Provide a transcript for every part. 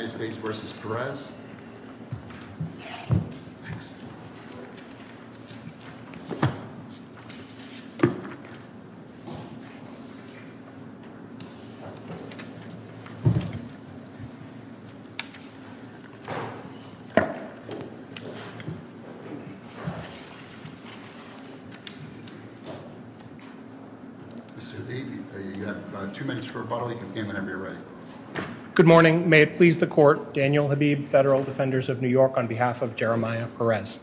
Mr. Lee, you have two minutes for rebuttal. You can begin whenever you're ready. Good morning. May it please the court, Daniel Habib, Federal Defenders of New York, on behalf of Jeremiah Perez.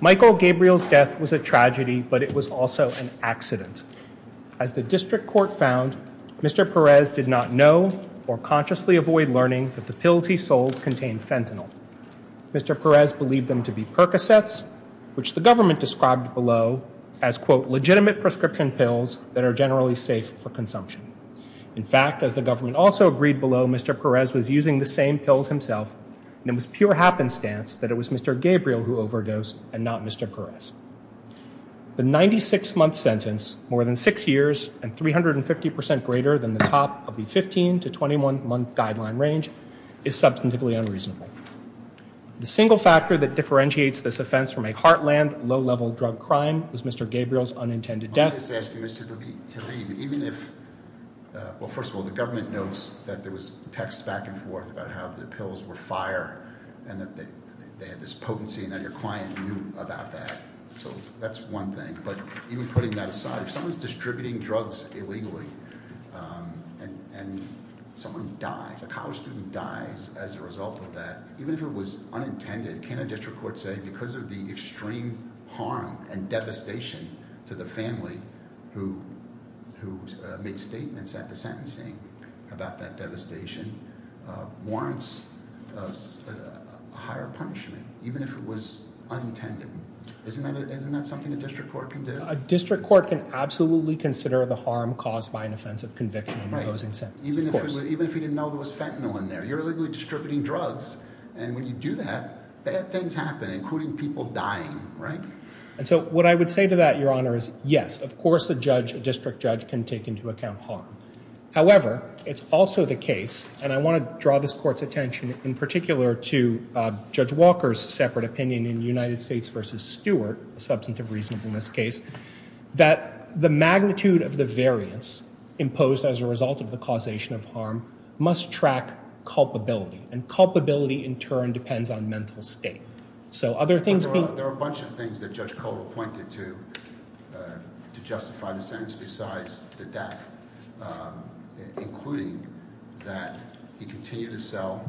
Michael Gabriel's death was a tragedy, but it was also an accident. As the district court found, Mr. Perez did not know or consciously avoid learning that the pills he sold contained fentanyl. Mr. Perez believed them to be Percocets, which the government described below as, quote, legitimate prescription pills that are generally safe for consumption. In fact, as the government also agreed below, Mr. Perez was using the same pills himself, and it was pure happenstance that it was Mr. Gabriel who overdosed and not Mr. Perez. The 96-month sentence, more than six years and 350 percent greater than the top of the 15 to 21-month guideline range, is substantively unreasonable. The single factor that differentiates this offense from a heartland, low-level drug crime was Mr. Gabriel's unintended death. I just ask you, Mr. Habib, even if, well, first of all, the government notes that there was texts back and forth about how the pills were fire and that they had this potency and that your client knew about that, so that's one thing. But even putting that aside, if someone's distributing drugs illegally and someone dies, a college student dies as a result of that, even if it was unintended, can a district court say because of the extreme harm and devastation to the family who made statements at the sentencing about that devastation, warrants a higher punishment, even if it was unintended? Isn't that something a district court can do? A district court can absolutely consider the harm caused by an offensive conviction in imposing sentences, of course. Right, even if he didn't know there was fentanyl in there. You're illegally distributing drugs, and when you do that, bad things happen, including people dying, right? And so what I would say to that, Your Honor, is yes, of course a judge, a district judge, can take into account harm. However, it's also the case, and I want to draw this Court's attention in particular to Judge Walker's separate opinion in United States v. Stewart, a substantive reasonableness case, that the magnitude of the variance imposed as a result of the causation of harm must track culpability, and culpability in turn depends on mental state. There are a bunch of things that Judge Cotto pointed to to justify the sentence besides the death, including that he continued to sell,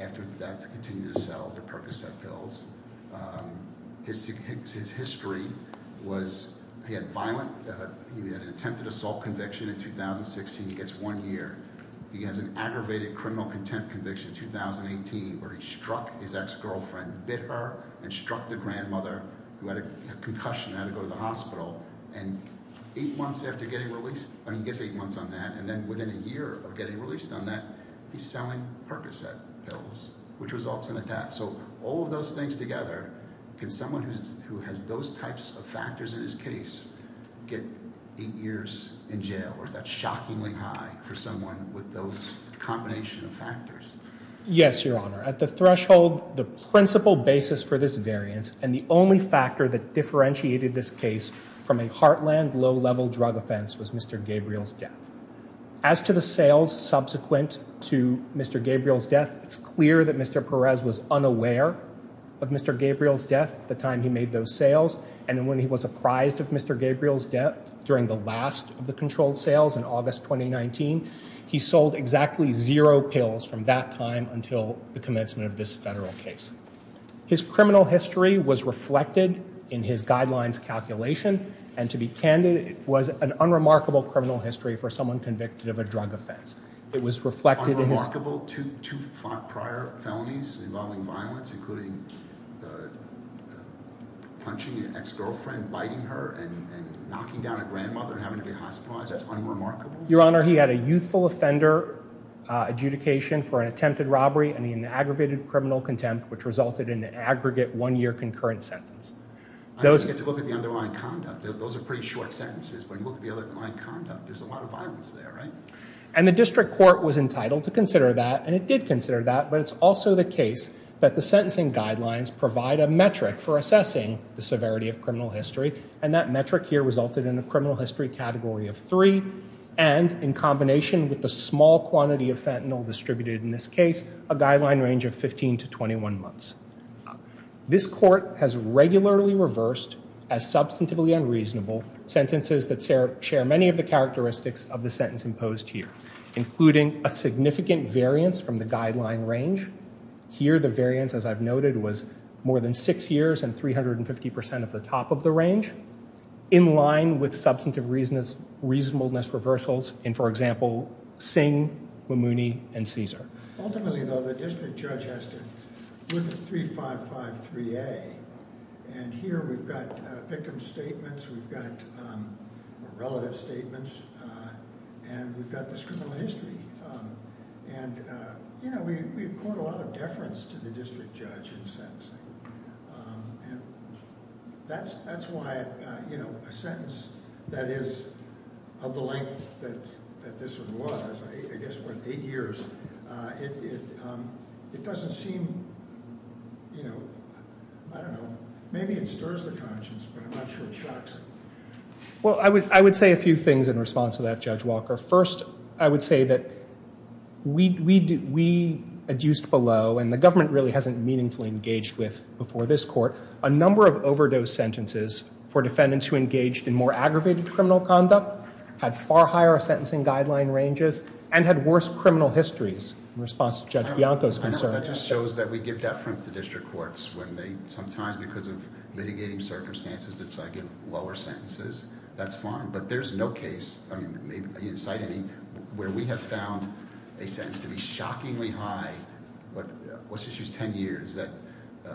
after the death, continued to sell the Percocet pills. His history was he had violent, he had an attempted assault conviction in 2016 against one year. He has an aggravated criminal contempt conviction in 2018 where he struck his ex-girlfriend bitter and struck the grandmother who had a concussion and had to go to the hospital, and eight months after getting released, I mean he gets eight months on that, and then within a year of getting released on that, he's selling Percocet pills, which results in a death. So all of those things together, can someone who has those types of factors in his case get eight years in jail, or is that shockingly high for someone with those combination of factors? Yes, your honor. At the threshold, the principal basis for this variance, and the only factor that differentiated this case from a heartland low-level drug offense was Mr. Gabriel's death. As to the sales subsequent to Mr. Gabriel's death, it's clear that Mr. Perez was unaware of Mr. Gabriel's death at the time he made those sales, and when he was apprised of Mr. Gabriel's during the last of the controlled sales in August 2019, he sold exactly zero pills from that time until the commencement of this federal case. His criminal history was reflected in his guidelines calculation, and to be candid, it was an unremarkable criminal history for someone convicted of a drug offense. It was reflected in his... Unremarkable? Two prior felonies involving violence, including the punching an ex-girlfriend, biting her, and knocking down a grandmother, and having to be hospitalized. That's unremarkable. Your honor, he had a youthful offender adjudication for an attempted robbery, and he had an aggravated criminal contempt, which resulted in an aggregate one-year concurrent sentence. I don't get to look at the underlying conduct. Those are pretty short sentences, but look at the underlying conduct. There's a lot of violence there, right? And the district court was entitled to consider that, and it did consider that, but it's also the case that the sentencing guidelines provide a metric for assessing the severity of criminal history, and that metric here resulted in a criminal history category of three, and in combination with the small quantity of fentanyl distributed in this case, a guideline range of 15 to 21 months. This court has regularly reversed, as substantively unreasonable, sentences that share many of the characteristics of the sentence imposed here, including a significant variance from the guideline range. Here, the variance, as I've noted, was more than six years and 350 percent of the top of the range, in line with substantive reasonableness reversals in, for example, Singh, Mamouni, and Caesar. Ultimately, though, the district judge has to look at 3553A, and here we've got victim statements, we've got relative statements, and we've got this criminal history, and we've poured a lot of deference to the district judge in sentencing, and that's why a sentence that is of the length that this one was, I guess, what, eight years, it doesn't seem, I don't know, maybe it stirs the conscience, but I'm not sure it shocks it. Well, I would say a few things in response to that, Judge Walker. First, I would say that we adduced below, and the government really hasn't meaningfully engaged with before this court, a number of overdose sentences for defendants who engaged in more aggravated criminal conduct, had far higher sentencing guideline ranges, and had worse criminal histories, in response to Judge Bianco's concern. That just shows that we give deference to district courts when they, sometimes, because of litigating circumstances, decide to give lower sentences. That's fine, but there's no case, I mean, where we have found a sentence to be shockingly high, but let's just use 10 years, that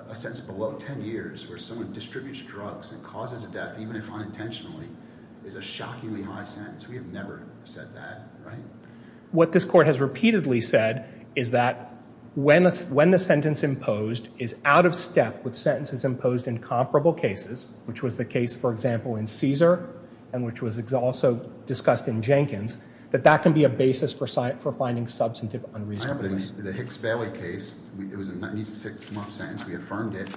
a sentence below 10 years, where someone distributes drugs and causes a death, even if unintentionally, is a shockingly high sentence. We have never said that, right? What this court has said is that when the sentence imposed is out of step with sentences imposed in comparable cases, which was the case, for example, in Caesar, and which was also discussed in Jenkins, that that can be a basis for finding substantive unreasonableness. The Hicks-Bailey case, it was a 96-month sentence, we affirmed it,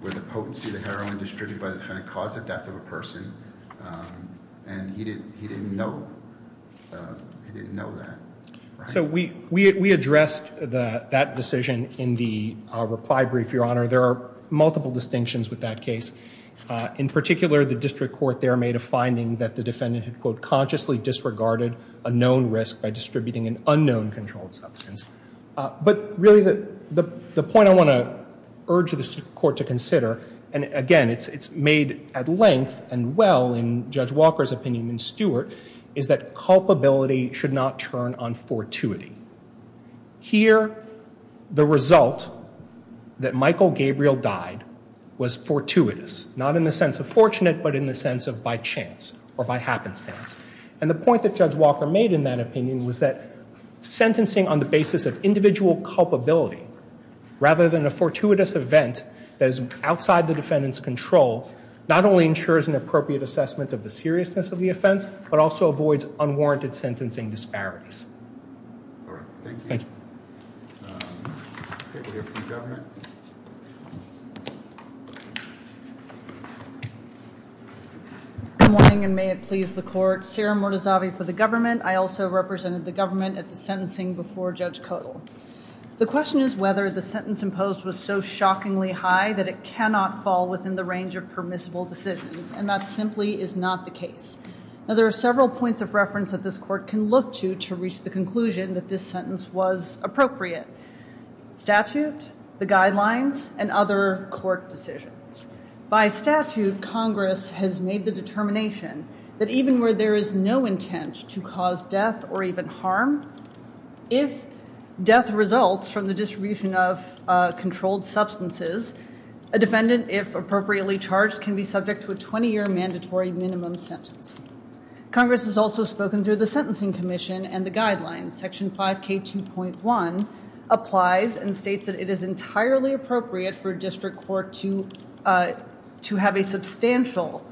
where the potency of the heroin distributed by the defendant caused the death of a person, and he didn't know that. So we addressed that decision in the reply brief, Your Honor. There are multiple distinctions with that case. In particular, the district court there made a finding that the defendant had, quote, consciously disregarded a known risk by distributing an unknown controlled substance. But really, the point I want to urge the court to consider, and again, it's made at length and well in Judge Walker's opinion and Stewart, is that culpability should not turn on fortuity. Here, the result that Michael Gabriel died was fortuitous, not in the sense of fortunate, but in the sense of by chance or by happenstance. And the point that Judge Walker made in that opinion was that sentencing on the basis of individual culpability, rather than a fortuitous event that is outside the defendant's control, not only ensures an appropriate assessment of the seriousness of the offense, but also avoids unwarranted sentencing disparities. All right, thank you. Okay, we'll hear from the government. Good morning, and may it please the court. Sarah Mordozavi for the government. I also represented the government at the sentencing before Judge Kodal. The question is whether the sentence imposed was so shockingly high that it cannot fall within the range of permissible decisions, and that simply is not the case. Now, there are several points of reference that this court can look to to reach the conclusion that this sentence was appropriate. Statute, the guidelines, and other court decisions. By statute, Congress has made the determination that even where there is no intent to cause death or even harm, if death results from the distribution of controlled substances, a defendant, if appropriately charged, can be subject to a 20-year mandatory minimum sentence. Congress has also spoken through the Sentencing Commission and the guidelines. Section 5k 2.1 applies and states that it is entirely appropriate for a district court to have a substantial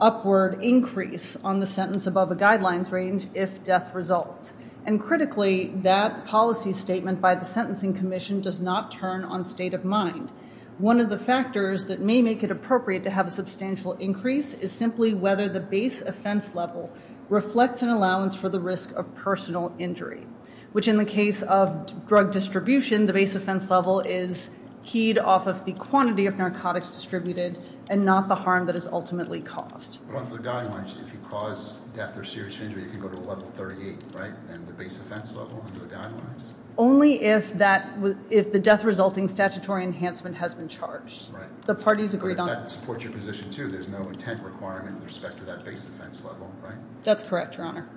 upward increase on the sentence above a guidelines range if death results. And critically, that policy statement by the Sentencing Commission does not turn on state of mind. One of the factors that may make it appropriate to have a substantial increase is simply whether the base offense level reflects an allowance for the risk of personal injury, which in the case of drug distribution, the base offense level is keyed off of the quantity of narcotics distributed and not the harm that is ultimately caused. But on the guidelines, if you cause death or serious injury, you can go to a level 38, right? And the base offense level on the guidelines? Only if that, if the death resulting statutory enhancement has been charged. Right. The parties agreed on that. But that supports your position too, there's no intent requirement with respect to that base offense level, right? That's correct, Your Honor.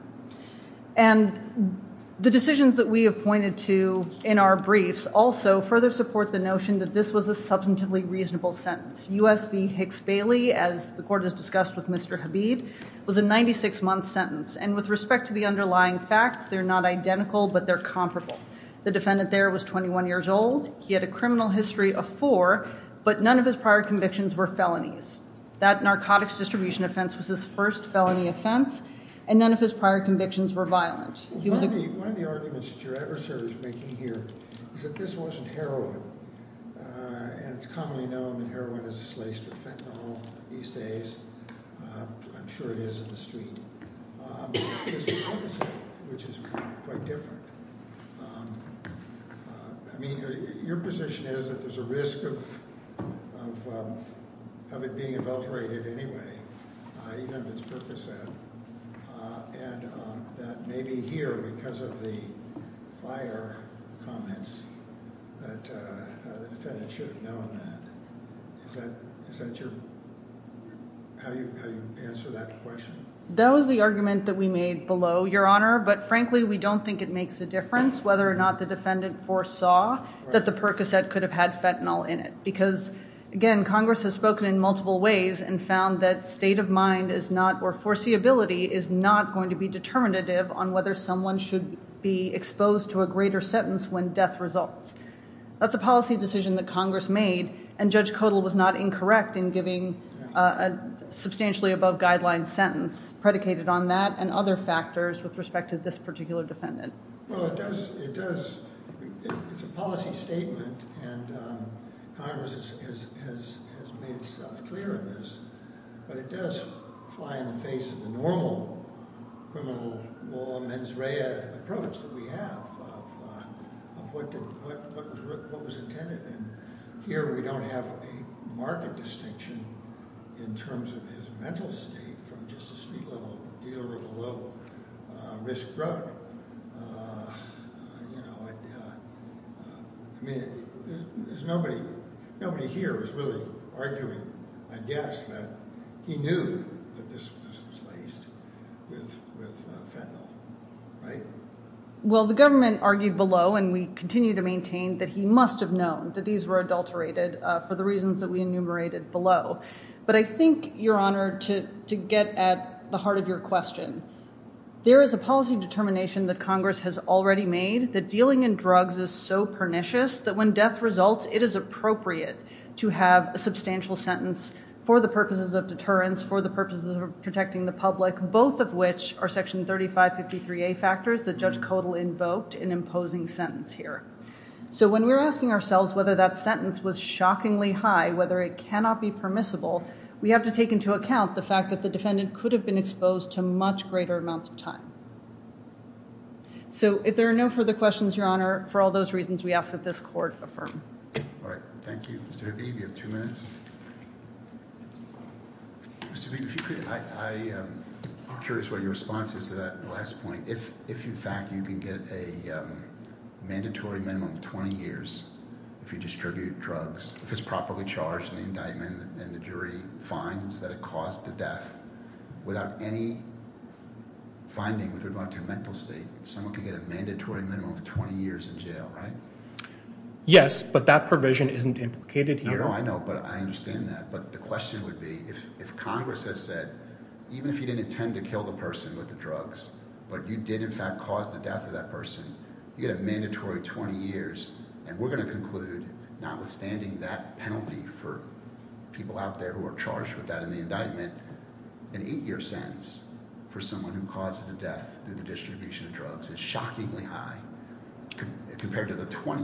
And the decisions that we have pointed to in our briefs also further support the notion that this was a substantively reasonable sentence. U.S. v. Hicks Bailey, as the court has discussed with Mr. Habib, was a 96-month sentence. And with respect to the underlying facts, they're not identical, but they're comparable. The defendant there was 21 years old. He had a criminal history of four, but none of his prior convictions were felonies. That narcotics distribution offense was his first felony offense, and none of his prior convictions were violent. One of the arguments that your adversary is making here is that this wasn't heroin. And it's commonly known that heroin is slaced with fentanyl these days. I'm sure it is in the street, which is quite different. I mean, your position is that there's a risk of it being adulterated anyway, even if it's Percocet, and that maybe here, because of the fire comments, that the defendant should have known that. Is that how you answer that question? That was the argument that we made below, Your Honor. But frankly, we don't think it makes a difference whether or not the defendant foresaw that the Percocet could have had fentanyl in it. Again, Congress has spoken in multiple ways and found that state of mind or foreseeability is not going to be determinative on whether someone should be exposed to a greater sentence when death results. That's a policy decision that Congress made, and Judge Kodal was not incorrect in giving a substantially above-guideline sentence predicated on that and other factors with respect to this particular defendant. Well, it does, it's a policy statement, and Congress has made itself clear on this, but it does fly in the face of the normal criminal law mens rea approach that we have of what was intended, and here we don't have a market distinction in terms of his mental state from just a street-level dealer of a low-risk drug. I mean, nobody here is really arguing, I guess, that he knew that this was laced with fentanyl, right? Well, the government argued below, and we continue to maintain, that he must have known that these were adulterated for the reasons that we enumerated below. But I think, Your Honor, to get at the heart of your question, there is a policy determination that Congress has already made that dealing in drugs is so pernicious that when death results, it is appropriate to have a substantial sentence for the purposes of deterrence, for the purposes of protecting the public, both of which are Section 3553A factors that Judge Kodal invoked in imposing sentence here. So when we're asking ourselves whether that sentence was shockingly high, whether it cannot be permissible, we have to take into account the fact that the defendant could have been exposed to much greater amounts of time. So if there are no further questions, Your Honor, for all those reasons, we ask that this Court affirm. All right, thank you. Mr. Habib, you have two minutes. Mr. Habib, if you could, I'm curious what your response is to that last point. If, in fact, you can get a mandatory minimum of 20 years if you distribute drugs, if it's properly charged, and the indictment and the jury finds that it caused the death without any finding with regard to mental state, someone could get a mandatory minimum of 20 years in jail, right? Yes, but that provision isn't implicated here. No, I know, but I understand that. But the question would be, if Congress has said, even if you didn't intend to kill the person with the drugs, but you did, in fact, cause the death of that person, you get a mandatory 20 years, and we're going to conclude, notwithstanding that penalty for people out there who are charged with that in the indictment, an eight-year sentence for someone who causes the death through the distribution of drugs is shockingly high compared to the 20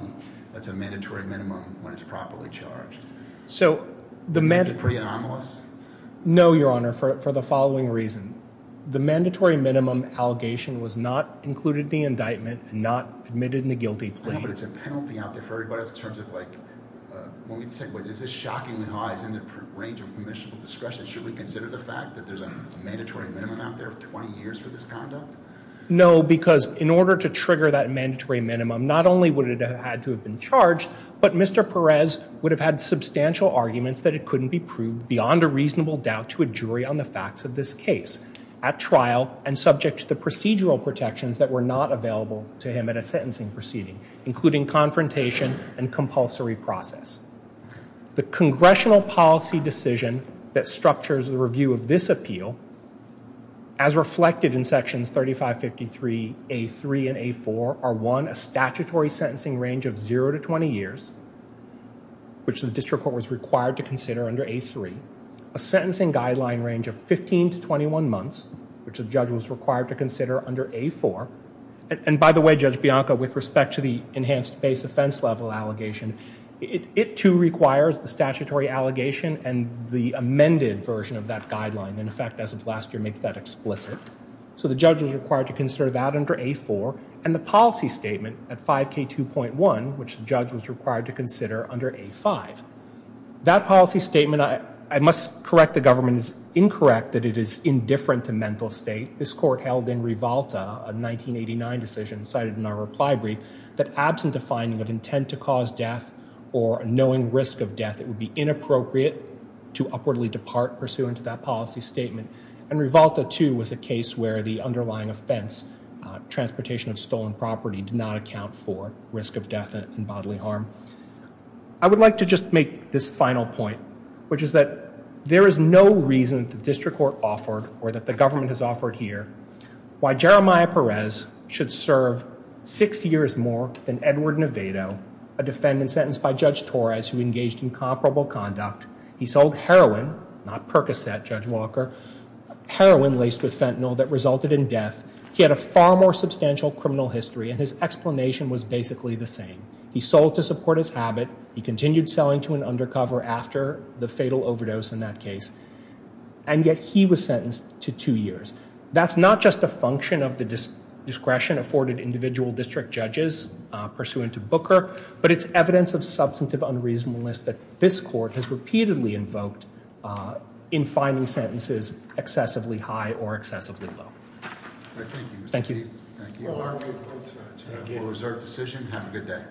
that's a mandatory minimum when it's properly charged. So, the mandatory... Is it pretty anomalous? No, Your Honor, for the following reason. The mandatory minimum allegation was not included in the indictment and not admitted in the guilty plea. I know, but it's a penalty out there for everybody else in terms of, like, when we say, wait, is this shockingly high, is in the range of commissionable discretion, should we consider the fact that there's a mandatory minimum out there of 20 years for this conduct? No, because in order to trigger that mandatory minimum, not only would it have had to have been charged, but Mr. Perez would have had substantial arguments that it couldn't be proved beyond a reasonable doubt to a jury on the facts of this case at trial and subject to the procedural protections that were not available to him at a sentencing proceeding, including confrontation and compulsory process. The congressional policy decision that structures the review of this appeal, as reflected in sections 3553 A3 and A4, are one, a statutory sentencing range of zero to 20 years, which the district court was required to consider under A3, a sentencing guideline range of 15 to 21 months, which the judge was required to consider under A4, and by the way, Judge Bianco, with respect to the enhanced base offense level allegation, it too requires the statutory allegation and the amended version of that guideline, in effect, as of last year, makes that explicit. So the judge was required to consider that under A4, and the policy statement at 5k2.1, which the judge was required to consider under A5. That policy statement, I must correct the government's incorrect that it is indifferent to mental state. This court held in Rivalta, a 1989 decision cited in our reply brief, that absent a finding of intent to cause death or a knowing risk of death, it would be inappropriate to upwardly depart pursuant to that policy statement, and Rivalta too was a case where the underlying offense, transportation of stolen property, did not account for risk of death and bodily harm. I would like to just make this final point, which is that there is no reason the district court offered, or that the government has offered here, why Jeremiah Perez should serve six years more than Edward Nevado, a defendant sentenced by Judge Torres, who engaged in comparable conduct. He sold heroin, not Percocet, Judge Walker, heroin laced with fentanyl that resulted in death. He had a far more substantial criminal history, and his explanation was basically the same. He sold to support his habit. He continued selling to an undercover after the fatal overdose in that case, and yet he was sentenced to two years. That's not just a function of the discretion afforded individual district judges pursuant to Booker, but it's evidence of substantive unreasonableness that this court has repeatedly invoked in finding sentences excessively high or excessively low. Thank you. Thank you. For a reserved decision, have a good day.